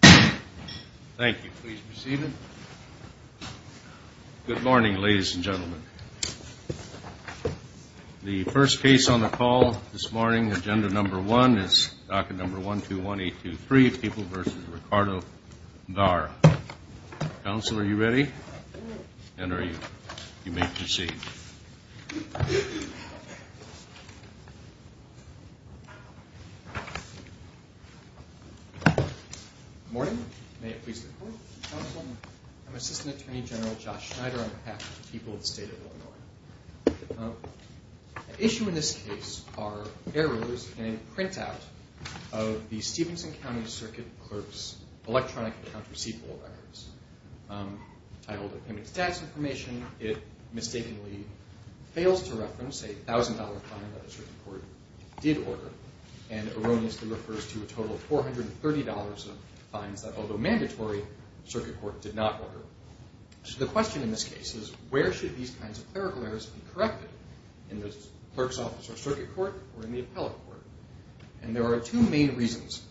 Thank you. Please be seated. Good morning, ladies and gentlemen. The first case on the call this morning, agenda number one, is docket number 121823, People v. Ricardo Vara. Counsel, are you ready? And are you? You may proceed. Good morning. May it please the Court. Counsel, I'm Assistant Attorney General Josh Schneider on behalf of the people of the state of Illinois. The issue in this case are errors in a printout of the Stephenson County Circuit Clerk's electronic account receivable records. I hold it in its status information. It mistakenly fails to reference a $1,000 fine that a certain $130 of fines that, although mandatory, the Circuit Court did not order. So the question in this case is where should these kinds of clerical errors be corrected? In the Clerk's Office or Circuit Court or in the Appellate Court? And there are two main reasons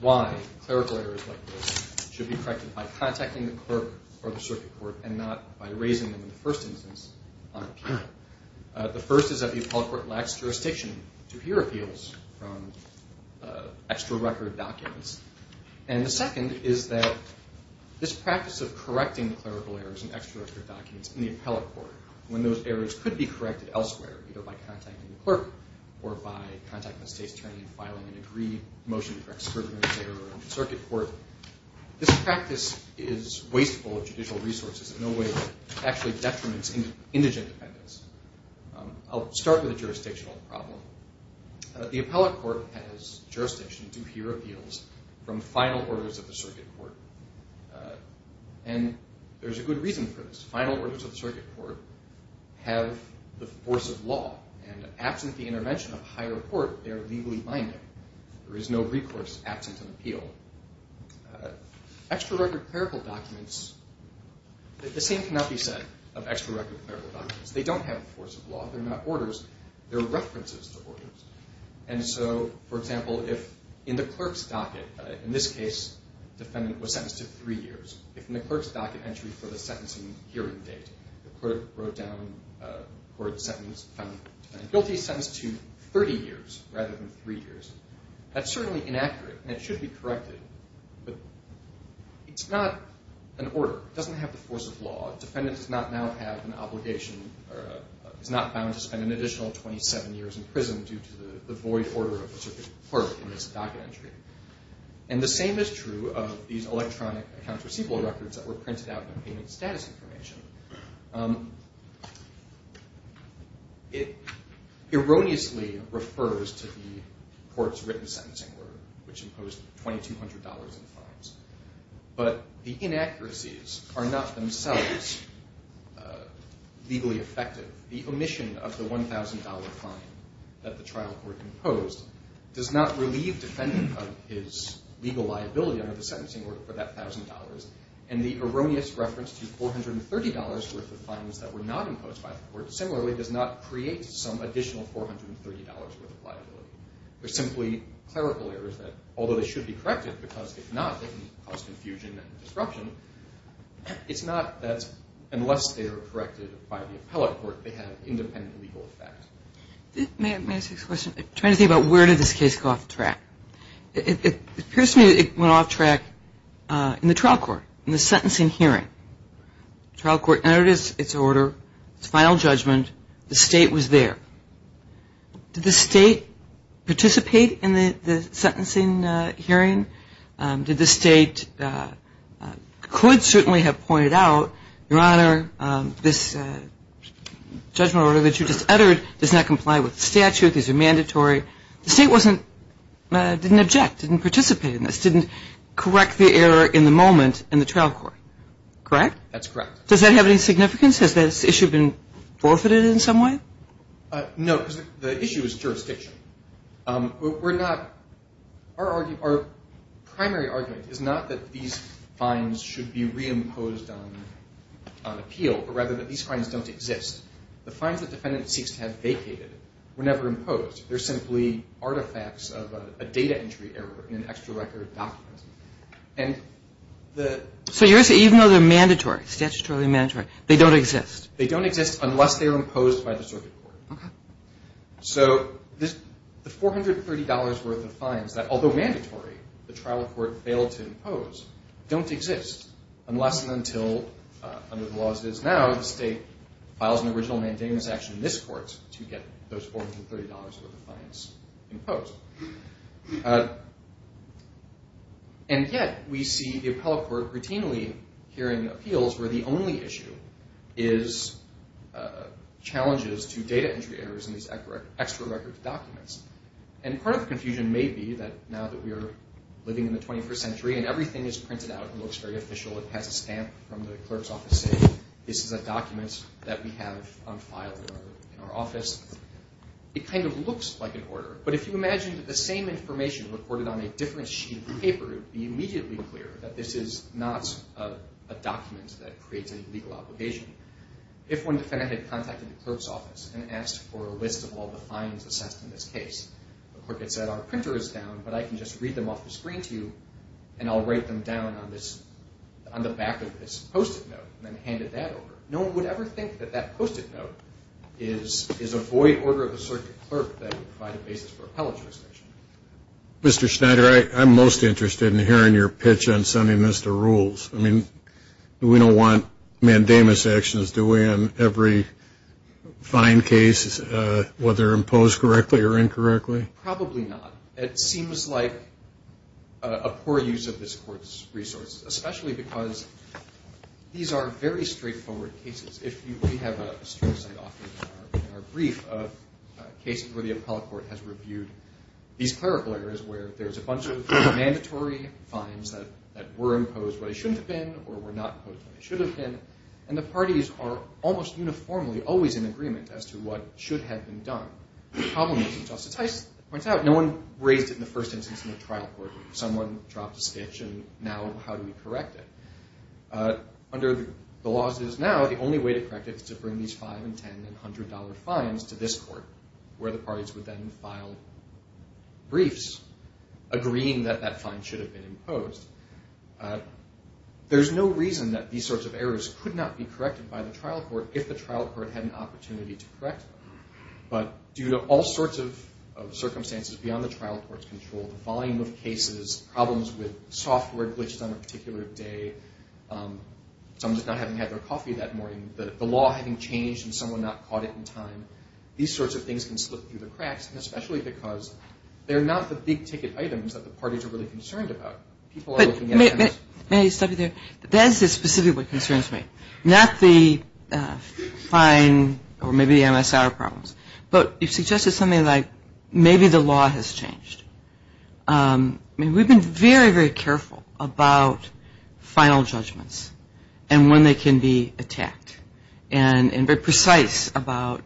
why clerical errors like this should be corrected by contacting the Clerk or the Circuit Court and not by raising them in the first instance on appeal. The first is that the Appellate Court has jurisdiction to hear appeals. And the second is that this practice of correcting clerical errors in extradictory documents in the Appellate Court, when those errors could be corrected elsewhere, either by contacting the Clerk or by contacting the state's attorney and filing an agreed motion for excurbance error in the Circuit Court, this practice is wasteful of judicial resources in a way that actually detriments indigent defendants. I'll start with a jurisdictional problem. The Appellate Court has jurisdiction to hear appeals from final orders of the Circuit Court. And there's a good reason for this. Final orders of the Circuit Court have the force of law. And absent the intervention of higher court, they are legally binding. There is no recourse absent an appeal. Extra-record clerical documents, the same cannot be said of extra-record clerical documents. They don't have the force of law. They're not orders. They're references to orders. And so, for example, if in the clerk's docket, in this case, defendant was sentenced to three years. If in the clerk's docket entry for the sentencing hearing date, the clerk wrote down court sentence found guilty, sentenced to 30 years rather than three years, that's certainly inaccurate and it should be corrected. But it's not an order. It doesn't have the force of law. Defendant does not now have an obligation or is not bound to spend an additional 27 years in prison due to the void order of the Circuit Court in this docket entry. And the same is true of these electronic accounts receivable records that were printed out in payment status information. It erroneously refers to the court's written sentencing order which imposed $2,200 in fines. But the inaccuracies are not themselves legally effective. The omission of the $1,000 fine that the trial court imposed does not relieve defendant of his legal liability under the sentencing order for that $1,000. And the erroneous reference to $430 worth of fines that were not imposed by the court similarly does not create some additional $430 worth of liability. They're simply clerical errors that although they should be corrected because if not, they can cause confusion and disruption, it's not that unless they are corrected by the appellate court, they have independent legal effect. May I ask a question? I'm trying to think about where did this case go off track. It appears to me that it went off track in the trial court, in the sentencing hearing. The state participate in the sentencing hearing? Did the state could certainly have pointed out, Your Honor, this judgment order that you just uttered does not comply with the statute, these are mandatory. The state didn't object, didn't participate in this, didn't correct the error in the moment in the trial court, correct? That's correct. Does that have any significance? Has this issue been forfeited in some way? No, because the issue is jurisdiction. We're not, our primary argument is not that these fines should be reimposed on appeal, but rather that these fines don't exist. The fines the defendant seeks to have vacated were never imposed. They're simply artifacts of a data entry error in an extra record document. So even though they're mandatory, statutorily mandatory, they don't exist? They don't exist unless they're imposed by the circuit court. So the $430 worth of fines that, although mandatory, the trial court failed to impose, don't exist unless and until, under the laws as it is now, the state files an original mandamus action in this court to get those $430 worth of fines imposed. And yet, we see the appellate court routinely hearing appeals where the only issue is challenges to data entry errors in these extra record documents. And part of the confusion may be that now that we are living in the 21st century and everything is printed out and looks very official, it has a stamp from the clerk's office saying this is a document that we have on file in our office, it kind of looks like an order. But if you imagine that the same information recorded on a different sheet of paper, it would be immediately clear that this is not a document that creates a legal obligation. If one defendant had contacted the clerk's office and asked for a list of all the fines assessed in this case, the clerk had said our printer is down, but I can just read them off the screen to you, and I'll write them down on the back of this post-it note, and then handed that over. No one would ever think that that post-it note is a void order of the circuit clerk that would provide a basis for appellate jurisdiction. Mr. Schneider, I'm most interested in hearing your pitch on sending this to rules. I mean, we don't want mandamus actions, do we, on every fine case, whether imposed correctly or incorrectly? Probably not. It seems like a poor use of this Court's resources, especially because these are very straightforward cases. If you have a case where the appellate court has reviewed these clerical errors where there's a bunch of mandatory fines that were imposed when they shouldn't have been or were not imposed when they should have been, and the parties are almost uniformly always in agreement as to what should have been done, the problem is, as Justice Heist points out, no one raised it in the first instance in the trial court. Someone dropped a sketch, and now how do we correct it? Under the laws as it is now, the only way to correct it is to bring these $5 and $10 and $100 fines to this Court, where the parties would then file briefs agreeing that that fine should have been imposed. There's no reason that these sorts of errors could not be corrected by the trial court if the trial court had an opportunity to correct them. But due to all sorts of circumstances beyond the trial court's control, the volume of cases, problems with software glitches on a particular day, someone just not having had their coffee that morning, the law having changed and someone not caught it in time, these sorts of things can slip through the cracks, and especially because they're not the big-ticket items that the parties are really concerned about. People are looking at... But may I stop you there? That is specifically what concerns me, not the fine or maybe the MSR problems, but you've suggested something like maybe the law has changed. I mean, we've been very, very careful about final judgments and when they can be attacked and very precise about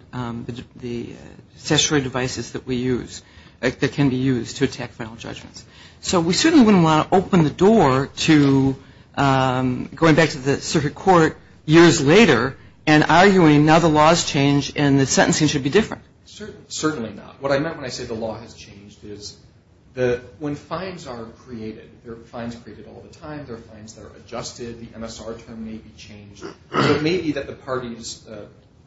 the accessory devices that we use, that can be used to attack final judgments. So we certainly wouldn't want to open the door to going back to the circuit court years later and arguing now the law has changed and the sentencing should be different. Certainly not. What I meant when I said the law has changed is when fines are created, there are fines created all the time, there are fines that are adjusted, the MSR term may be changed. So it may be that the parties,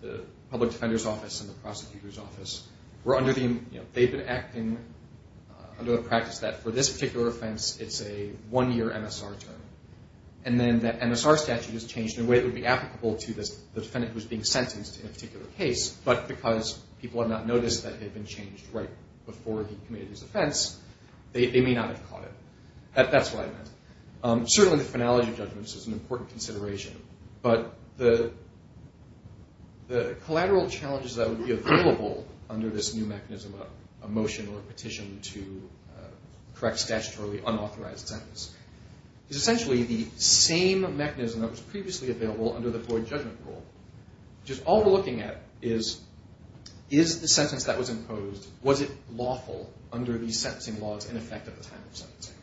the public defender's office and the prosecutor's office, they've been acting under the practice that for this particular offense, it's a one-year MSR term. And then that MSR statute is changed in a way that would be applicable to the defendant who's being sentenced in a particular case, but because people have not noticed that it had been changed right before he committed his offense, they may not have caught it. That's what I meant. Certainly the finality of judgments is an important consideration, but the collateral challenges that would be available under this new mechanism of a motion or a petition to correct statutorily unauthorized sentences is essentially the same mechanism that was previously available under the Floyd Judgment Rule, which is all we're looking at is, is the sentence that was imposed, was it lawful under these sentencing laws in effect at the time of sentencing?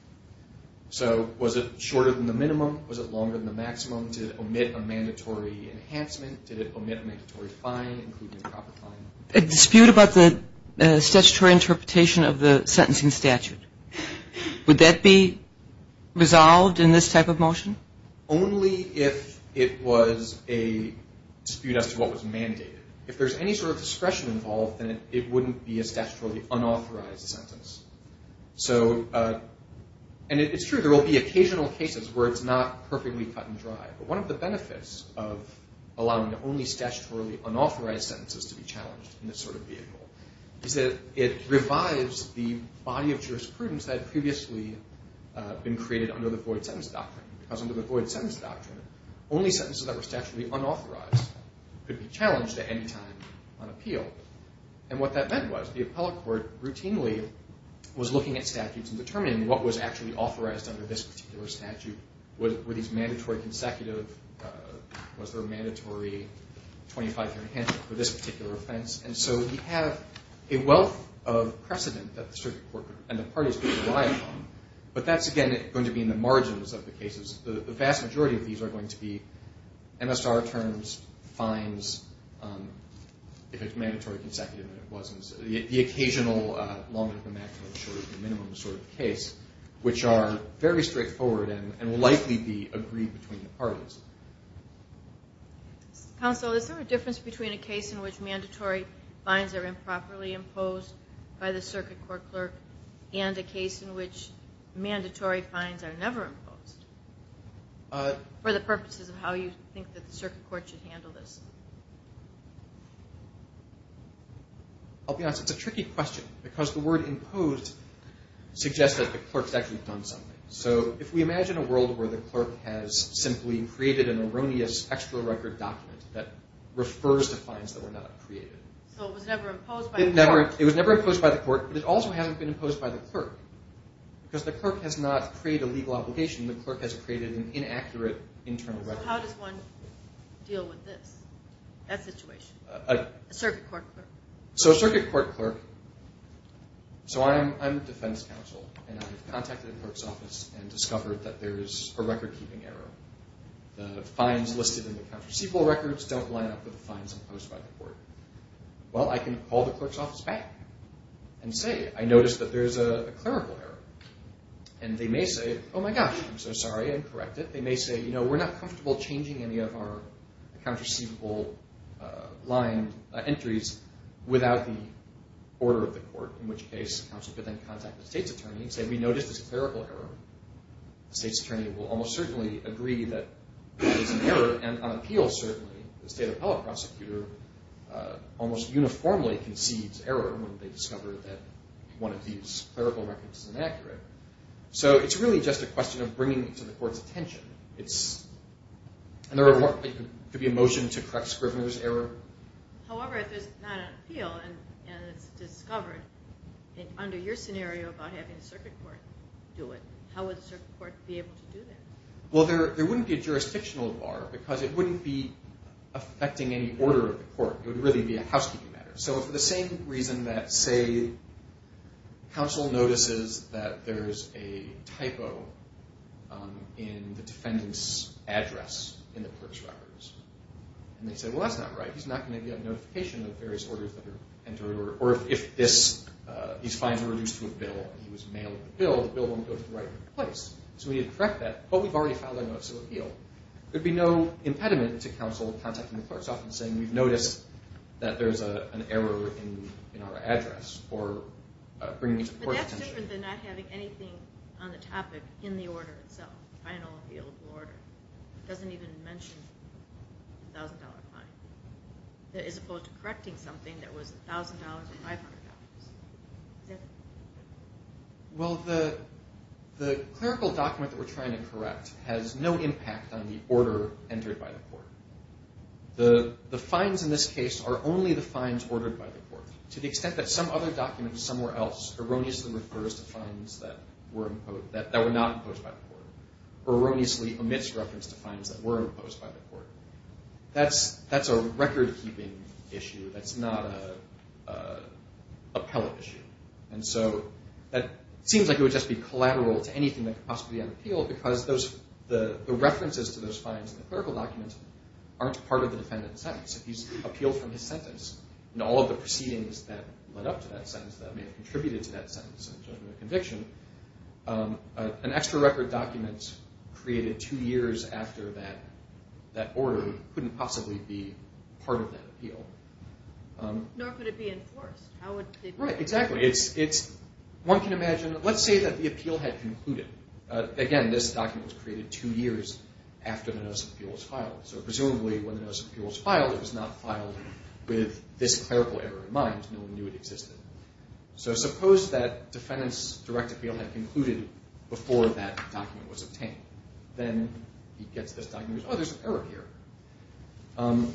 So was it shorter than the minimum? Was it longer than the maximum? Did it omit a mandatory enhancement? Did it omit a mandatory fine, including a proper fine? A dispute about the statutory interpretation of the sentencing statute. Would that be resolved in this type of motion? Only if it was a dispute as to what was mandated. If there's any sort of discretion involved, then it wouldn't be a statutorily unauthorized sentence. So, and it's true, there will be occasional cases where it's not perfectly cut and dry, but one of the benefits of allowing the only statutorily unauthorized sentences to be challenged in this sort of vehicle is that it revives the body of jurisprudence that had previously been created under the Floyd Sentence Doctrine, because under the Floyd Sentence Doctrine, only sentences that were statutorily unauthorized could be challenged at any time on appeal. And what that meant was the appellate court routinely was looking at statutes and determining what was actually authorized under this particular statute. Were these mandatory consecutive? Was there a mandatory 25-year enhancement for this particular offense? And so we have a wealth of precedent that the circuit court and the parties could rely upon, but that's, again, going to be in the margins of the cases. The vast majority of these are going to be MSR terms, fines, if it's mandatory consecutive and it wasn't. The occasional lawmen of the maximum and minimum sort of case, which are very straightforward and will likely be agreed between the parties. Counsel, is there a difference between a case in which mandatory fines are improperly imposed by the circuit court clerk and a case in which mandatory fines are never imposed for the purposes of how you think that the circuit court should handle this? I'll be honest. It's a tricky question, because the word imposed suggests that the clerk's actually done something. So if we imagine a world where the clerk has simply created an erroneous extra record document that refers to fines that were not created. So it was never imposed by the court. It was never imposed by the court, but it also hasn't been imposed by the clerk, because the clerk has not created a legal obligation. The clerk has created an inaccurate internal record. So how does one deal with this, that situation, a circuit court clerk? So circuit court clerk. So I'm defense counsel, and I've contacted the clerk's office and discovered that there is a record-keeping error. The fines listed in the counterceivable records don't line up with the fines imposed by the court. Well, I can call the clerk's office back and say, I noticed that there's a clerical error. And they may say, oh my gosh, I'm so sorry, and correct it. They may say, you know, we're not comfortable changing any of our counterceivable line entries without the order of the court, in which case counsel could then contact the state's attorney and say, we noticed there's a clerical error. The state's attorney will almost certainly agree that there is an error, and on appeal, certainly, the state appellate prosecutor almost uniformly concedes error when they discover that one of these clerical records is inaccurate. So it's really just a question of bringing it to the court's attention. And there could be a motion to correct Scrivener's error. However, if there's not an appeal and it's discovered, under your scenario about having a circuit court do it, how would a circuit court be able to do that? Well, there wouldn't be a jurisdictional bar because it wouldn't be affecting any order of the court. It would really be a housekeeping matter. So for the same reason that, say, counsel notices that there's a typo in the defendant's address in the clerk's records, and they say, well, that's not right. He's not going to get a notification of various orders that are entered, or if these fines are reduced to a bill, he was mailed the bill, the bill won't go to the right place. So we need to correct that. But we've already filed a notice of appeal. There would be no impediment to counsel contacting the clerk's office and saying, we've noticed that there's an error in our address or bringing it to court. But that's different than not having anything on the topic in the order itself, the final appealable order. It doesn't even mention the $1,000 fine, as opposed to correcting something that was $1,000 or $500. Well, the clerical document that we're trying to correct has no impact on the order entered by the court. The fines in this case are only the fines ordered by the court, to the extent that some other document somewhere else erroneously refers to fines that were not imposed by the court, erroneously omits reference to fines that were imposed by the court. That's a record-keeping issue. That's not an appellate issue. And so that seems like it would just be collateral to anything that could possibly be on appeal, because the references to those fines in the clerical document aren't part of the defendant's sentence. If he's appealed from his sentence, then all of the proceedings that led up to that sentence that may have contributed to that sentence in the judgment of conviction, an extra-record document created two years after that order couldn't possibly be part of that appeal. Nor could it be enforced. Right, exactly. One can imagine, let's say that the appeal had concluded. Again, this document was created two years after the Notice of Appeals was filed. So presumably when the Notice of Appeals was filed, it was not filed with this clerical error in mind. No one knew it existed. So suppose that defendant's direct appeal had concluded before that document was obtained. Then he gets this document and goes, oh, there's an error here.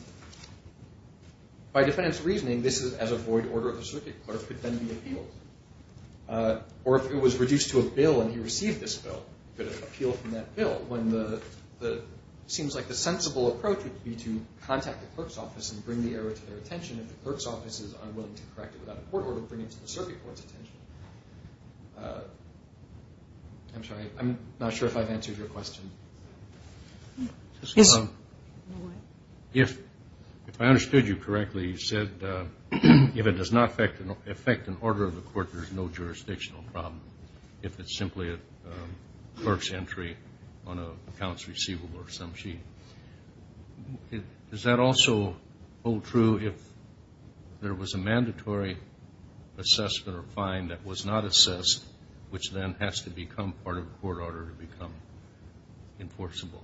By defendant's reasoning, this is as a void order of the circuit. The clerk could then be appealed. Or if it was reduced to a bill and he received this bill, he could appeal from that bill. It seems like the sensible approach would be to contact the clerk's office and bring the error to their attention. If the clerk's office is unwilling to correct it without a court order, bring it to the circuit court's attention. I'm sorry. I'm not sure if I've answered your question. Yes. If I understood you correctly, you said if it does not affect an order of the court, there's no jurisdictional problem if it's simply a clerk's entry on an accounts receivable or some sheet. Does that also hold true if there was a mandatory assessment or fine that was not assessed, which then has to become part of the court order to become enforceable?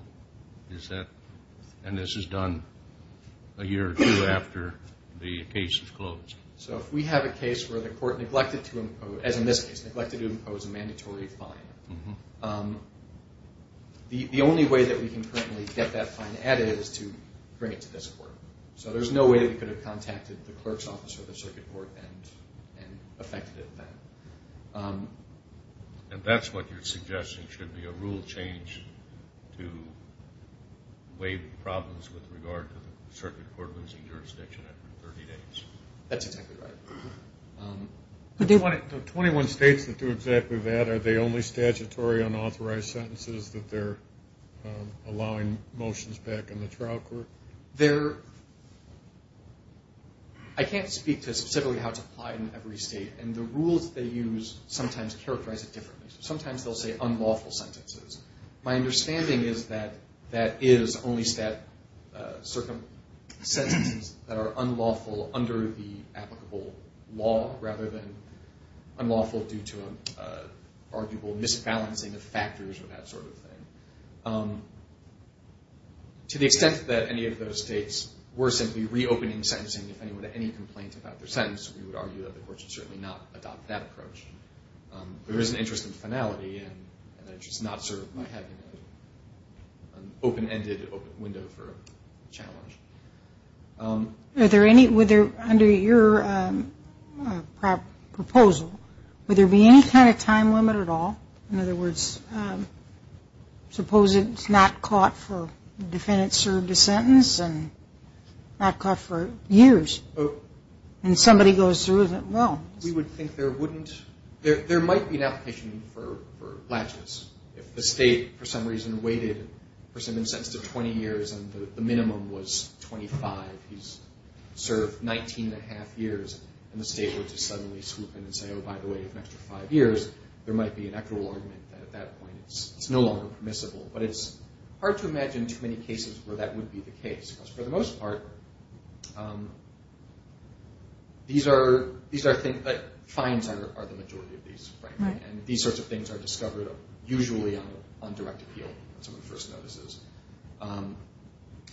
And this is done a year or two after the case is closed. So if we have a case where the court neglected to impose, as in this case, neglected to impose a mandatory fine, the only way that we can currently get that fine added is to bring it to this court. So there's no way they could have contacted the clerk's office or the circuit court and affected it then. And that's what you're suggesting should be a rule change to waive problems with regard to the circuit court losing jurisdiction after 30 days. That's exactly right. The 21 states that do exactly that, are they only statutory unauthorized sentences that they're allowing motions back in the trial court? I can't speak to specifically how it's applied in every state, and the rules they use sometimes characterize it differently. Sometimes they'll say unlawful sentences. My understanding is that that is only certain sentences that are unlawful under the applicable law rather than unlawful due to an arguable misbalancing of factors or that sort of thing. To the extent that any of those states were simply reopening sentencing, if anyone had any complaints about their sentence, we would argue that the court should certainly not adopt that approach. There is an interest in finality and an interest not served by having an open-ended window for a challenge. Under your proposal, would there be any kind of time limit at all? In other words, suppose it's not caught for the defendant served a sentence and not caught for years, and somebody goes through with it. Well, we would think there wouldn't. There might be an application for latches. If the state, for some reason, waited for someone sentenced to 20 years and the minimum was 25, he's served 19 and a half years, and the state were to suddenly swoop in and say, oh, by the way, if you wait an extra five years, there might be an actual argument that at that point it's no longer permissible. But it's hard to imagine too many cases where that would be the case, because for the most part, fines are the majority of these, and these sorts of things are discovered usually on direct appeal on some of the first notices.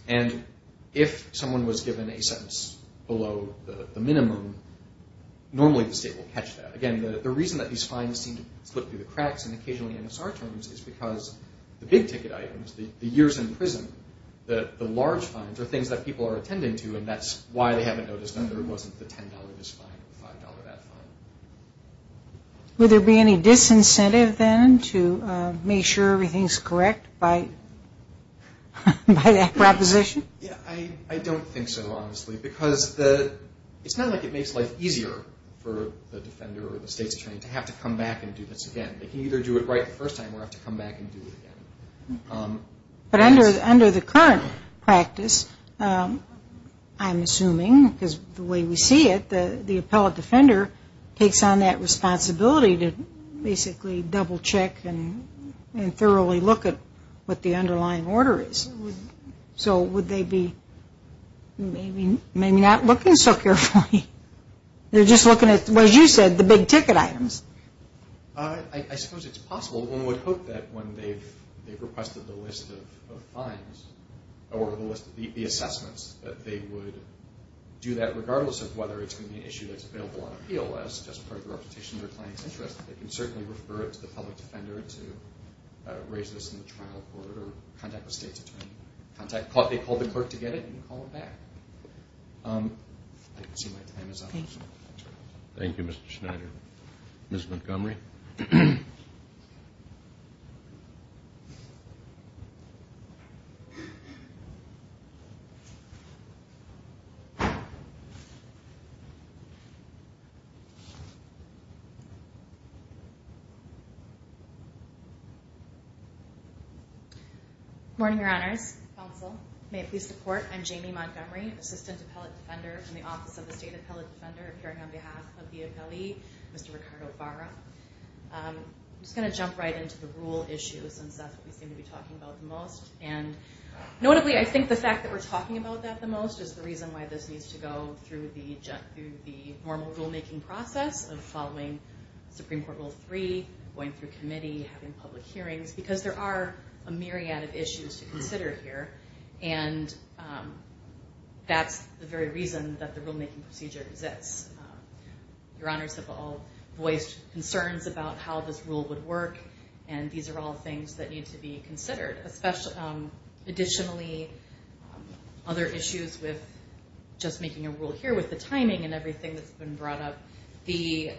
And if someone was given a sentence below the minimum, normally the state will catch that. Again, the reason that these fines seem to slip through the cracks and occasionally MSR terms is because the big ticket items, the years in prison, the large fines, are things that people are attending to, and that's why they haven't noticed that there wasn't the $10 this fine or the $5 that fine. Would there be any disincentive then to make sure everything's correct by that proposition? I don't think so, honestly, because it's not like it makes life easier for the defender or the state's attorney to have to come back and do this again. They can either do it right the first time or have to come back and do it again. But under the current practice, I'm assuming, because the way we see it, the appellate defender takes on that responsibility to basically double-check and thoroughly look at what the underlying order is. So would they be maybe not looking so carefully? They're just looking at, as you said, the big ticket items. I suppose it's possible. One would hope that when they've requested the list of fines or the list of the assessments, that they would do that regardless of whether it's going to be an issue that's available on appeal as just part of the reputation of the client's interest. They can certainly refer it to the public defender to raise this in the trial court or contact the state's attorney. They call the clerk to get it and call it back. I can see my time is up. Thank you, Mr. Schneider. Ms. Montgomery? Good morning, Your Honors. Counsel. May it please the Court, I'm Jamie Montgomery, Assistant Appellate Defender in the Office of the State Appellate Defender, appearing on behalf of the appellee, Mr. Ricardo Barra. I'm just going to jump right into the rule issues, since that's what we seem to be talking about the most. And notably, I think the fact that we're talking about that the most is the reason why this needs to go through the normal rulemaking process of following Supreme Court Rule 3, going through committee, having public hearings, because there are a myriad of issues to consider here, and that's the very reason that the rulemaking procedure exists. Your Honors have all voiced concerns about how this rule would work, and these are all things that need to be considered, additionally other issues with just making a rule here with the timing and everything that's been brought up. The,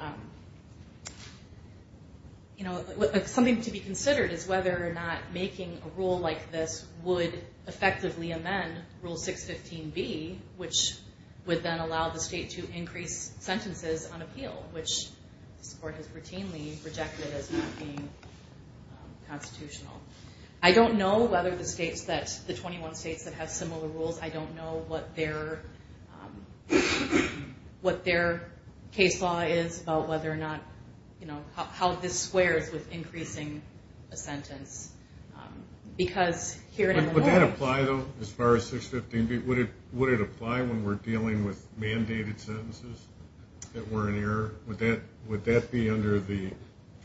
you know, something to be considered is whether or not making a rule like this would effectively amend Rule 615B, which would then allow the state to increase sentences on appeal, which this Court has routinely rejected as not being constitutional. I don't know whether the states that, the 21 states that have similar rules, I don't know what their case law is about whether or not, you know, how this squares with increasing a sentence, because here in Illinois. Would that apply, though, as far as 615B? Would it apply when we're dealing with mandated sentences that were in error? Would that be under the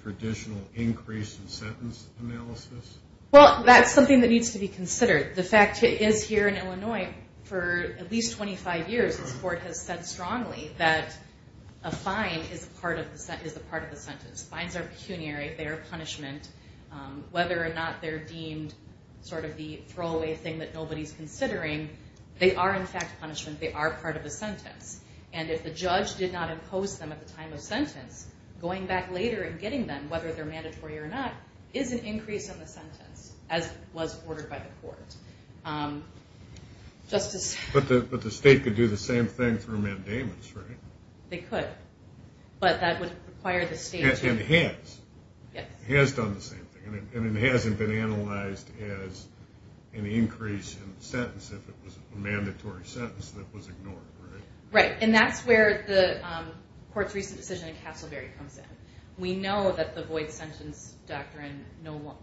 traditional increase in sentence analysis? Well, that's something that needs to be considered. The fact is here in Illinois, for at least 25 years, this Court has said strongly that a fine is a part of the sentence. Fines are pecuniary. They are punishment. Whether or not they're deemed sort of the throwaway thing that nobody's considering, they are, in fact, punishment. They are part of the sentence. And if the judge did not impose them at the time of sentence, going back later and getting them, whether they're mandatory or not, is an increase on the sentence, as was ordered by the Court. But the state could do the same thing through mandamus, right? They could. But that would require the state to. And it has. Yes. It has done the same thing. And it hasn't been analyzed as an increase in the sentence if it was a mandatory sentence that was ignored, right? Right. And that's where the Court's recent decision in Castleberry comes in. We know that the void sentence doctrine now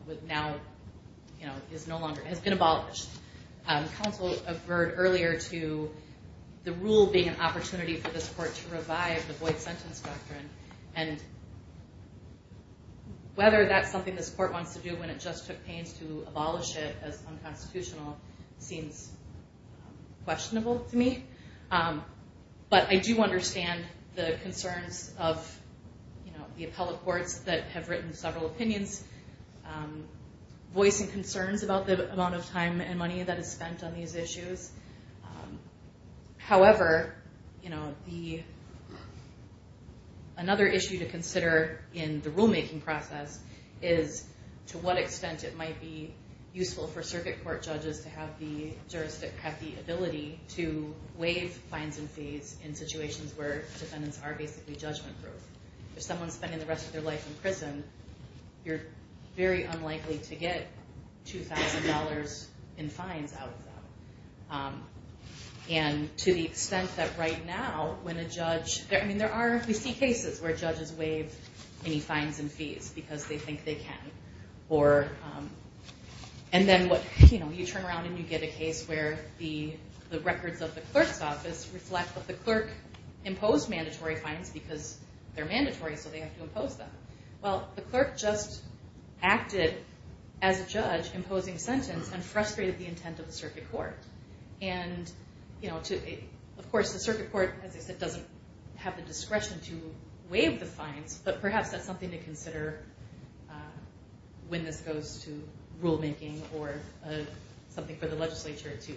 has been abolished. Counsel averred earlier to the rule being an opportunity for this Court to revive the void sentence doctrine. And whether that's something this Court wants to do when it just took pains to abolish it as unconstitutional seems questionable to me. But I do understand the concerns of the appellate courts that have written several opinions, voicing concerns about the amount of time and money that is spent on these issues. However, another issue to consider in the rulemaking process is to what extent it might be useful for circuit court judges to have the ability to waive fines and fees in situations where defendants are basically judgment-proof. If someone's spending the rest of their life in prison, you're very unlikely to get $2,000 in fines out of them. And to the extent that right now when a judge... I mean, we see cases where judges waive any fines and fees because they think they can. And then you turn around and you get a case where the records of the clerk's office reflect that the clerk imposed mandatory fines because they're mandatory, so they have to impose them. Well, the clerk just acted as a judge imposing a sentence and frustrated the intent of the circuit court. And, of course, the circuit court, as I said, doesn't have the discretion to waive the fines, but perhaps that's something to consider when this goes to rulemaking or something for the legislature to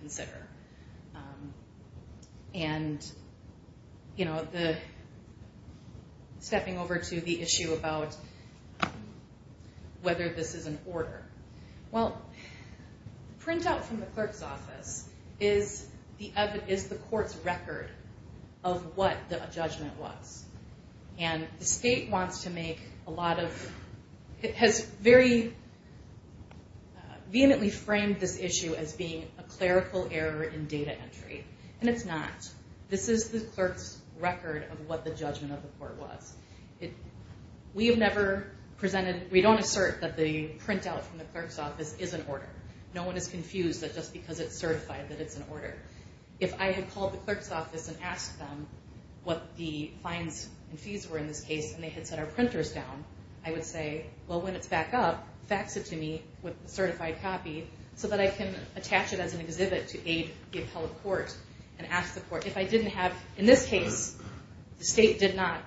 consider. And stepping over to the issue about whether this is an order. Well, printout from the clerk's office is the court's record of what the judgment was. And the state wants to make a lot of... It has very vehemently framed this issue as being a clerical error in data entry. And it's not. This is the clerk's record of what the judgment of the court was. We have never presented... We don't assert that the printout from the clerk's office is an order. No one is confused that just because it's certified that it's an order. If I had called the clerk's office and asked them what the fines and fees were in this case and they had set our printers down, I would say, well, when it's back up, fax it to me with a certified copy so that I can attach it as an exhibit to aid the appellate court and ask the court if I didn't have... In this case, the state did not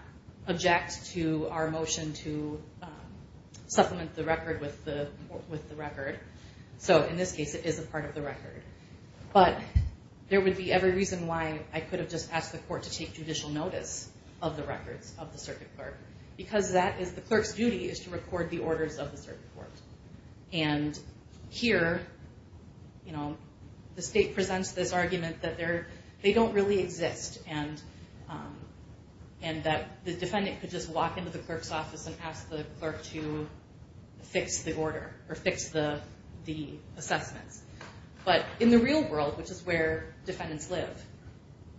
object to our motion to supplement the record with the record. So, in this case, it is a part of the record. But there would be every reason why I could have just asked the court to take judicial notice of the records of the circuit clerk because that is the clerk's duty is to record the orders of the circuit court. And here, you know, the state presents this argument that they don't really exist and that the defendant could just walk into the clerk's office and ask the clerk to fix the order or fix the assessments. But in the real world, which is where defendants live,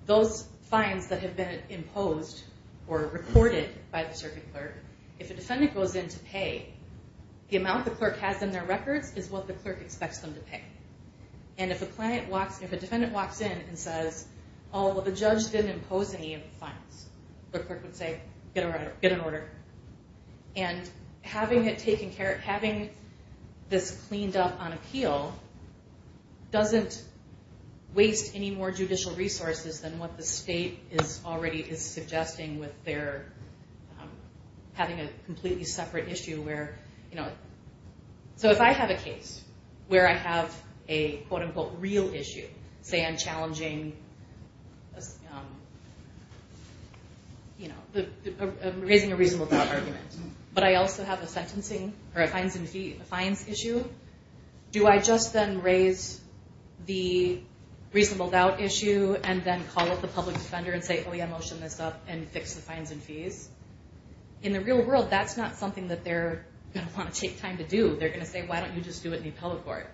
those fines that have been imposed or recorded by the circuit clerk, if a defendant goes in to pay, the amount the clerk has in their records is what the clerk expects them to pay. And if a defendant walks in and says, oh, well, the judge didn't impose any of the fines, the clerk would say, get an order. And having it taken care of, having this cleaned up on appeal doesn't waste any more judicial resources than what the state is already suggesting with their having a completely separate issue where, you know. So if I have a case where I have a, quote, unquote, real issue, say I'm challenging, you know, raising a reasonable doubt argument, but I also have a sentencing or a fines issue, do I just then raise the reasonable doubt issue and then call up the public defender and say, oh, yeah, motion this up and fix the fines and fees? In the real world, that's not something that they're going to want to take time to do. They're going to say, why don't you just do it in the appellate court?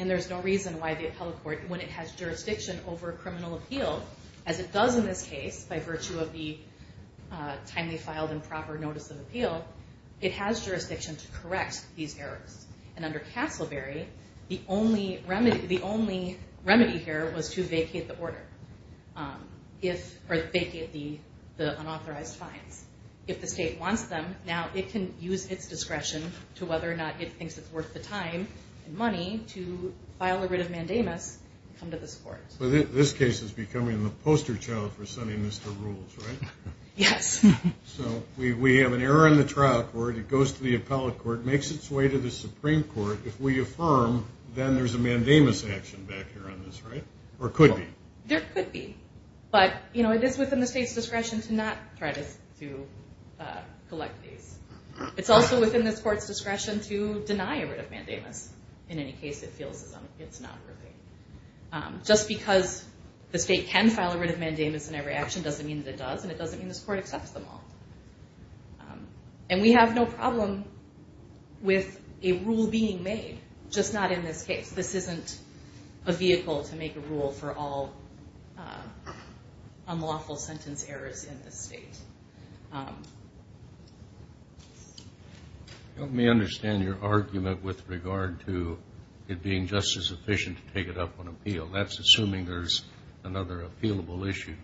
And there's no reason why the appellate court, when it has jurisdiction over criminal appeal, as it does in this case by virtue of the timely filed and proper notice of appeal, it has jurisdiction to correct these errors. And under Castleberry, the only remedy here was to vacate the order, or vacate the unauthorized fines. If the state wants them, now it can use its discretion to whether or not it thinks it's worth the time and money to file a writ of mandamus and come to this court. Well, this case is becoming the poster child for sending this to rules, right? Yes. So we have an error in the trial court. It goes to the appellate court, makes its way to the Supreme Court. If we affirm, then there's a mandamus action back here on this, right, or could be? There could be, but, you know, it is within the state's discretion to not try to collect these. It's also within this court's discretion to deny a writ of mandamus in any case it feels it's not worthy. Just because the state can file a writ of mandamus in every action doesn't mean that it does, and it doesn't mean this court accepts them all. And we have no problem with a rule being made, just not in this case. This isn't a vehicle to make a rule for all unlawful sentence errors in this state. Let me understand your argument with regard to it being just as efficient to take it up on appeal. That's assuming there's another appealable issue.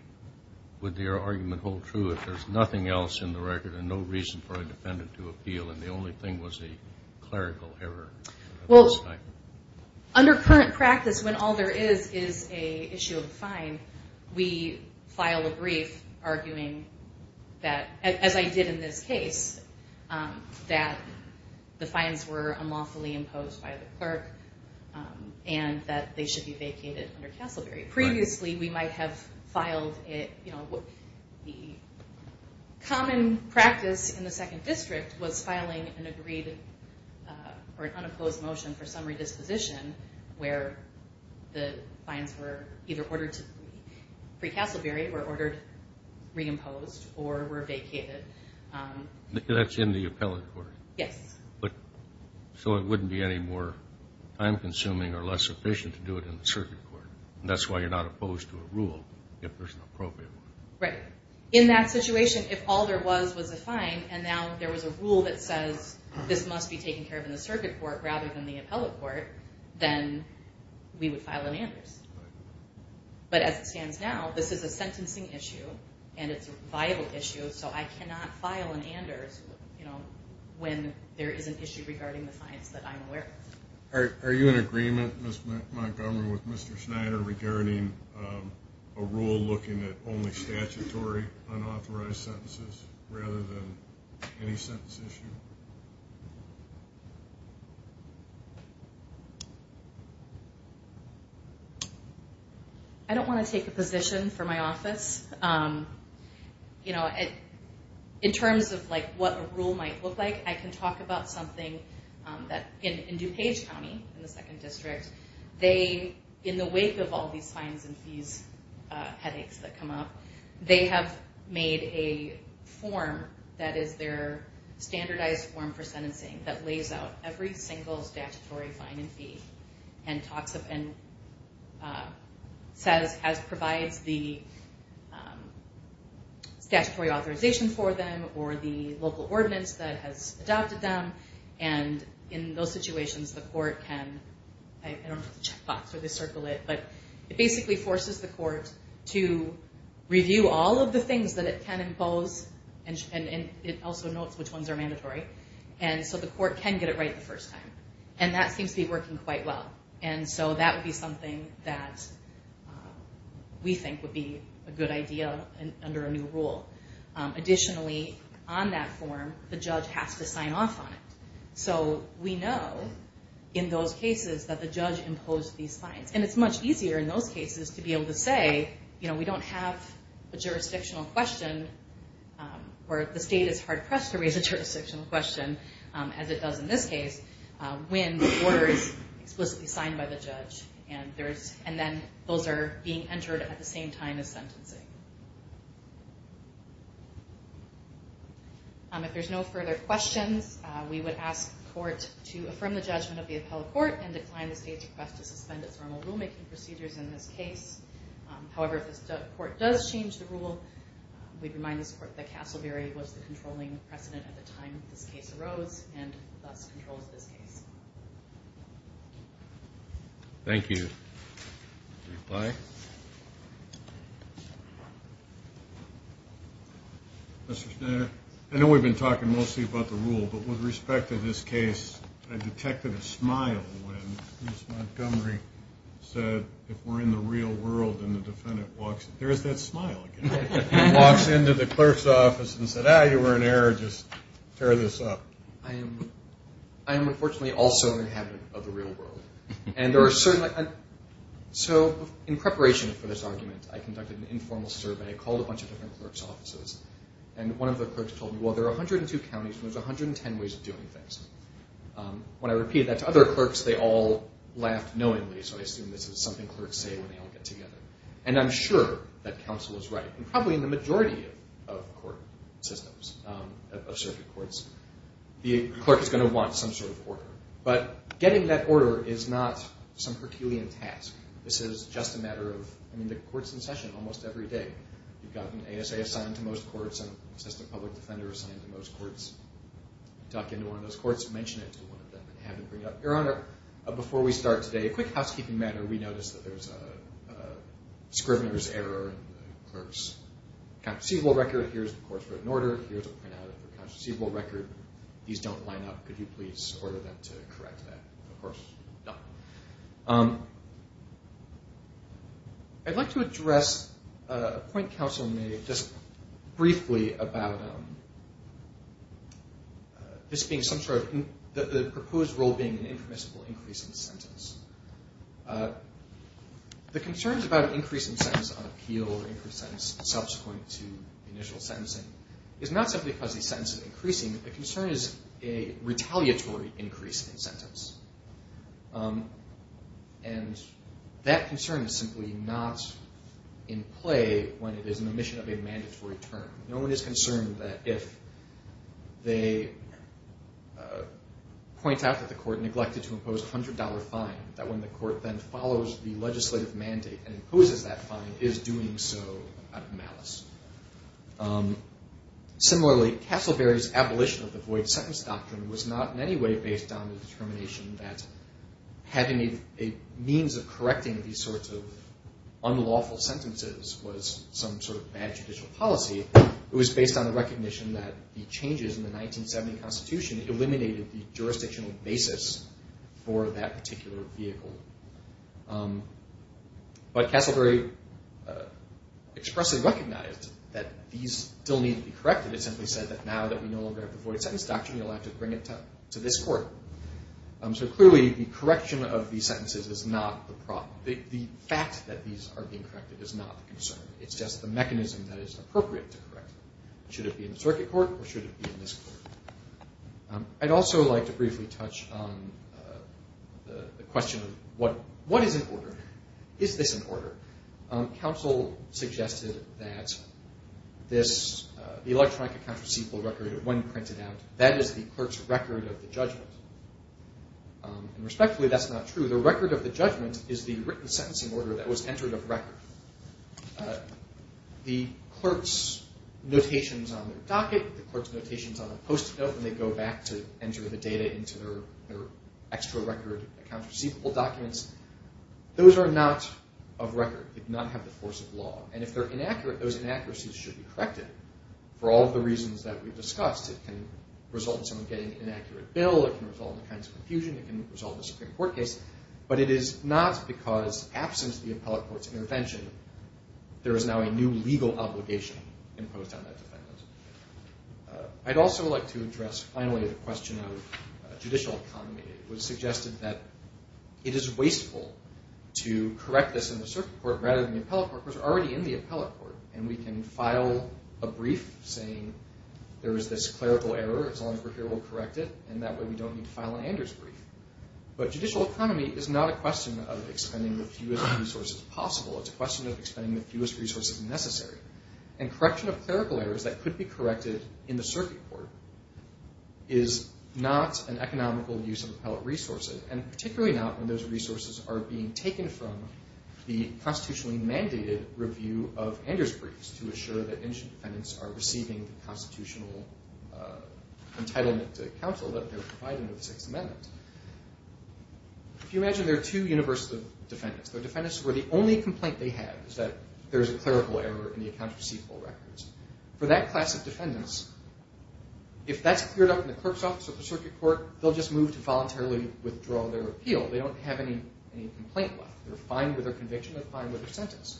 Would your argument hold true if there's nothing else in the record and no reason for a defendant to appeal and the only thing was a clerical error at this time? Well, under current practice, when all there is is an issue of a fine, we file a brief arguing that, as I did in this case, that the fines were unlawfully imposed by the clerk and that they should be vacated under Castleberry. Previously, we might have filed it, you know, the common practice in the Second District was filing an agreed or an unopposed motion for summary disposition where the fines were either ordered pre-Castleberry or ordered reimposed or were vacated. That's in the appellate court. Yes. So it wouldn't be any more time-consuming or less efficient to do it in the circuit court. That's why you're not opposed to a rule if there's an appropriate one. Right. In that situation, if all there was was a fine and now there was a rule that says this must be taken care of in the circuit court rather than the appellate court, then we would file an Anders. Right. But as it stands now, this is a sentencing issue and it's a vital issue, so I cannot file an Anders, you know, when there is an issue regarding the fines that I'm aware of. Are you in agreement, Ms. Montgomery, with Mr. Schneider regarding a rule looking at only statutory unauthorized sentences rather than any sentence issue? I don't want to take a position for my office. You know, in terms of, like, what a rule might look like, I can talk about something that in DuPage County, in the 2nd District, they, in the wake of all these fines and fees headaches that come up, they have made a form that is their standardized form for sentencing that lays out every single statutory fine and fee and talks up and says, provides the statutory authorization for them or the local ordinance that has adopted them, and in those situations, the court can, I don't know if it's a checkbox or they circle it, but it basically forces the court to review all of the things that it can impose, and it also notes which ones are mandatory, and so the court can get it right the first time, and that seems to be working quite well, and so that would be something that we think would be a good idea under a new rule. Additionally, on that form, the judge has to sign off on it, so we know in those cases that the judge imposed these fines, and it's much easier in those cases to be able to say, you know, we don't have a jurisdictional question where the state is hard-pressed to raise a jurisdictional question, as it does in this case, when the order is explicitly signed by the judge, and then those are being entered at the same time as sentencing. If there's no further questions, we would ask the court to affirm the judgment of the appellate court and decline the state's request to suspend its formal rulemaking procedures in this case. However, if the court does change the rule, we'd remind this court that Castleberry was the controlling precedent at the time this case arose and thus controls this case. Thank you. A reply? Mr. Schneider, I know we've been talking mostly about the rule, but with respect to this case, I detected a smile when Ms. Montgomery said, if we're in the real world and the defendant walks in. There's that smile again. Walks into the clerk's office and said, ah, you were in error, just tear this up. I am unfortunately also an inhabitant of the real world, and so in preparation for this argument, I conducted an informal survey, called a bunch of different clerk's offices, and one of the clerks told me, well, there are 102 counties, and there's 110 ways of doing things. When I repeated that to other clerks, they all laughed knowingly, so I assume this is something clerks say when they all get together. And I'm sure that counsel is right, and probably in the majority of court systems, of circuit courts, the clerk is going to want some sort of order. But getting that order is not some herculean task. This is just a matter of, I mean, the court's in session almost every day. You've got an ASA assigned to most courts, an assistant public defender assigned to most courts. Tuck into one of those courts, mention it to one of them, and have them bring it up. Your Honor, before we start today, a quick housekeeping matter. We noticed that there's a scrivener's error in the clerk's conceivable record. Here's the court's written order. Here's a printout of the conceivable record. These don't line up. Could you please order them to correct that? Of course not. I'd like to address a point counsel made just briefly about this being some sort of the proposed rule being an impermissible increase in sentence. The concerns about an increase in sentence on appeal or increase in sentence subsequent to initial sentencing is not simply because the sentence is increasing. The concern is a retaliatory increase in sentence. And that concern is simply not in play when it is an omission of a mandatory term. No one is concerned that if they point out that the court neglected to impose a $100 fine, that when the court then follows the legislative mandate and imposes that fine, is doing so out of malice. Similarly, Castleberry's abolition of the void sentence doctrine was not in any way based on the determination that having a means of correcting these sorts of unlawful sentences was some sort of bad judicial policy. It was based on the recognition that the changes in the 1970 Constitution eliminated the jurisdictional basis for that particular vehicle. But Castleberry expressly recognized that these still need to be corrected. It simply said that now that we no longer have the void sentence doctrine, you'll have to bring it to this court. So clearly, the correction of these sentences is not the problem. The fact that these are being corrected is not the concern. It's just the mechanism that is appropriate to correct it. Should it be in the circuit court or should it be in this court? I'd also like to briefly touch on the question of what is in order. Is this in order? Counsel suggested that the electronic account receivable record, when printed out, that is the clerk's record of the judgment. Respectfully, that's not true. The record of the judgment is the written sentencing order that was entered of record. The clerk's notations on the docket, the clerk's notations on the post-it note, when they go back to enter the data into their extra record account receivable documents, those are not of record. They do not have the force of law. And if they're inaccurate, those inaccuracies should be corrected. For all of the reasons that we've discussed, it can result in someone getting an inaccurate bill, it can result in a kind of confusion, it can result in a Supreme Court case. But it is not because, absent the appellate court's intervention, there is now a new legal obligation imposed on that defendant. I'd also like to address, finally, the question of judicial economy. It was suggested that it is wasteful to correct this in the circuit court rather than the appellate court, which is already in the appellate court. And we can file a brief saying there is this clerical error, as long as we're here we'll correct it, and that way we don't need to file an Anders brief. But judicial economy is not a question of expending the fewest resources possible. It's a question of expending the fewest resources necessary. And correction of clerical errors that could be corrected in the circuit court is not an economical use of appellate resources, and particularly not when those resources are being taken from the constitutionally mandated review of Anders briefs to assure that indigent defendants are receiving the constitutional entitlement to counsel that they're providing with the Sixth Amendment. If you imagine there are two universes of defendants. There are defendants where the only complaint they have is that there is a clerical error in the accounts receivable records. For that class of defendants, if that's cleared up in the clerk's office or the circuit court, they'll just move to voluntarily withdraw their appeal. They don't have any complaint left. They're fine with their conviction. They're fine with their sentence.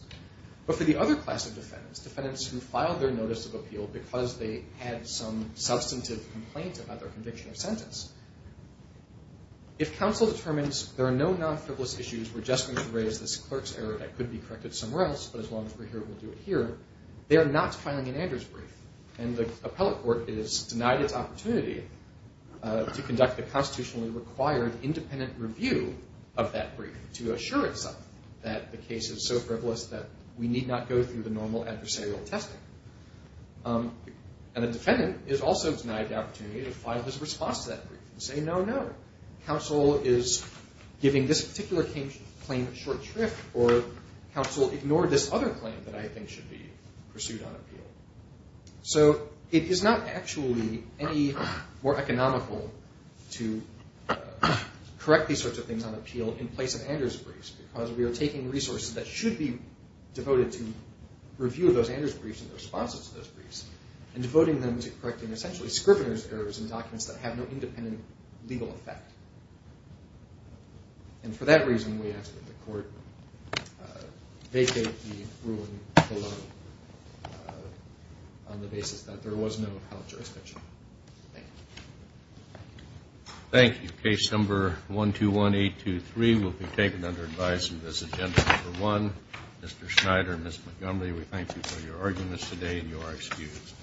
If counsel determines there are no non-frivolous issues, we're just going to raise this clerk's error that could be corrected somewhere else, but as long as we're here, we'll do it here. They are not filing an Anders brief. And the appellate court is denied its opportunity to conduct the constitutionally required independent review of that brief to assure itself that the case is so frivolous that we need not go through the normal adversarial testing. And the defendant is also denied the opportunity to file his response to that brief and say, no, no, counsel is giving this particular claim short shrift or counsel ignored this other claim that I think should be pursued on appeal. So it is not actually any more economical to correct these sorts of things on appeal in place of Anders briefs because we are taking resources that should be devoted to review of those Anders briefs and their responses to those briefs and devoting them to correcting essentially scrivener's errors in documents that have no independent legal effect. And for that reason, we ask that the court vacate the ruling below on the basis that there was no appellate jurisdiction. Thank you. Thank you. Case number 121823 will be taken under advice in this agenda number one. Mr. Schneider, Ms. Montgomery, we thank you for your arguing this today and you are excused.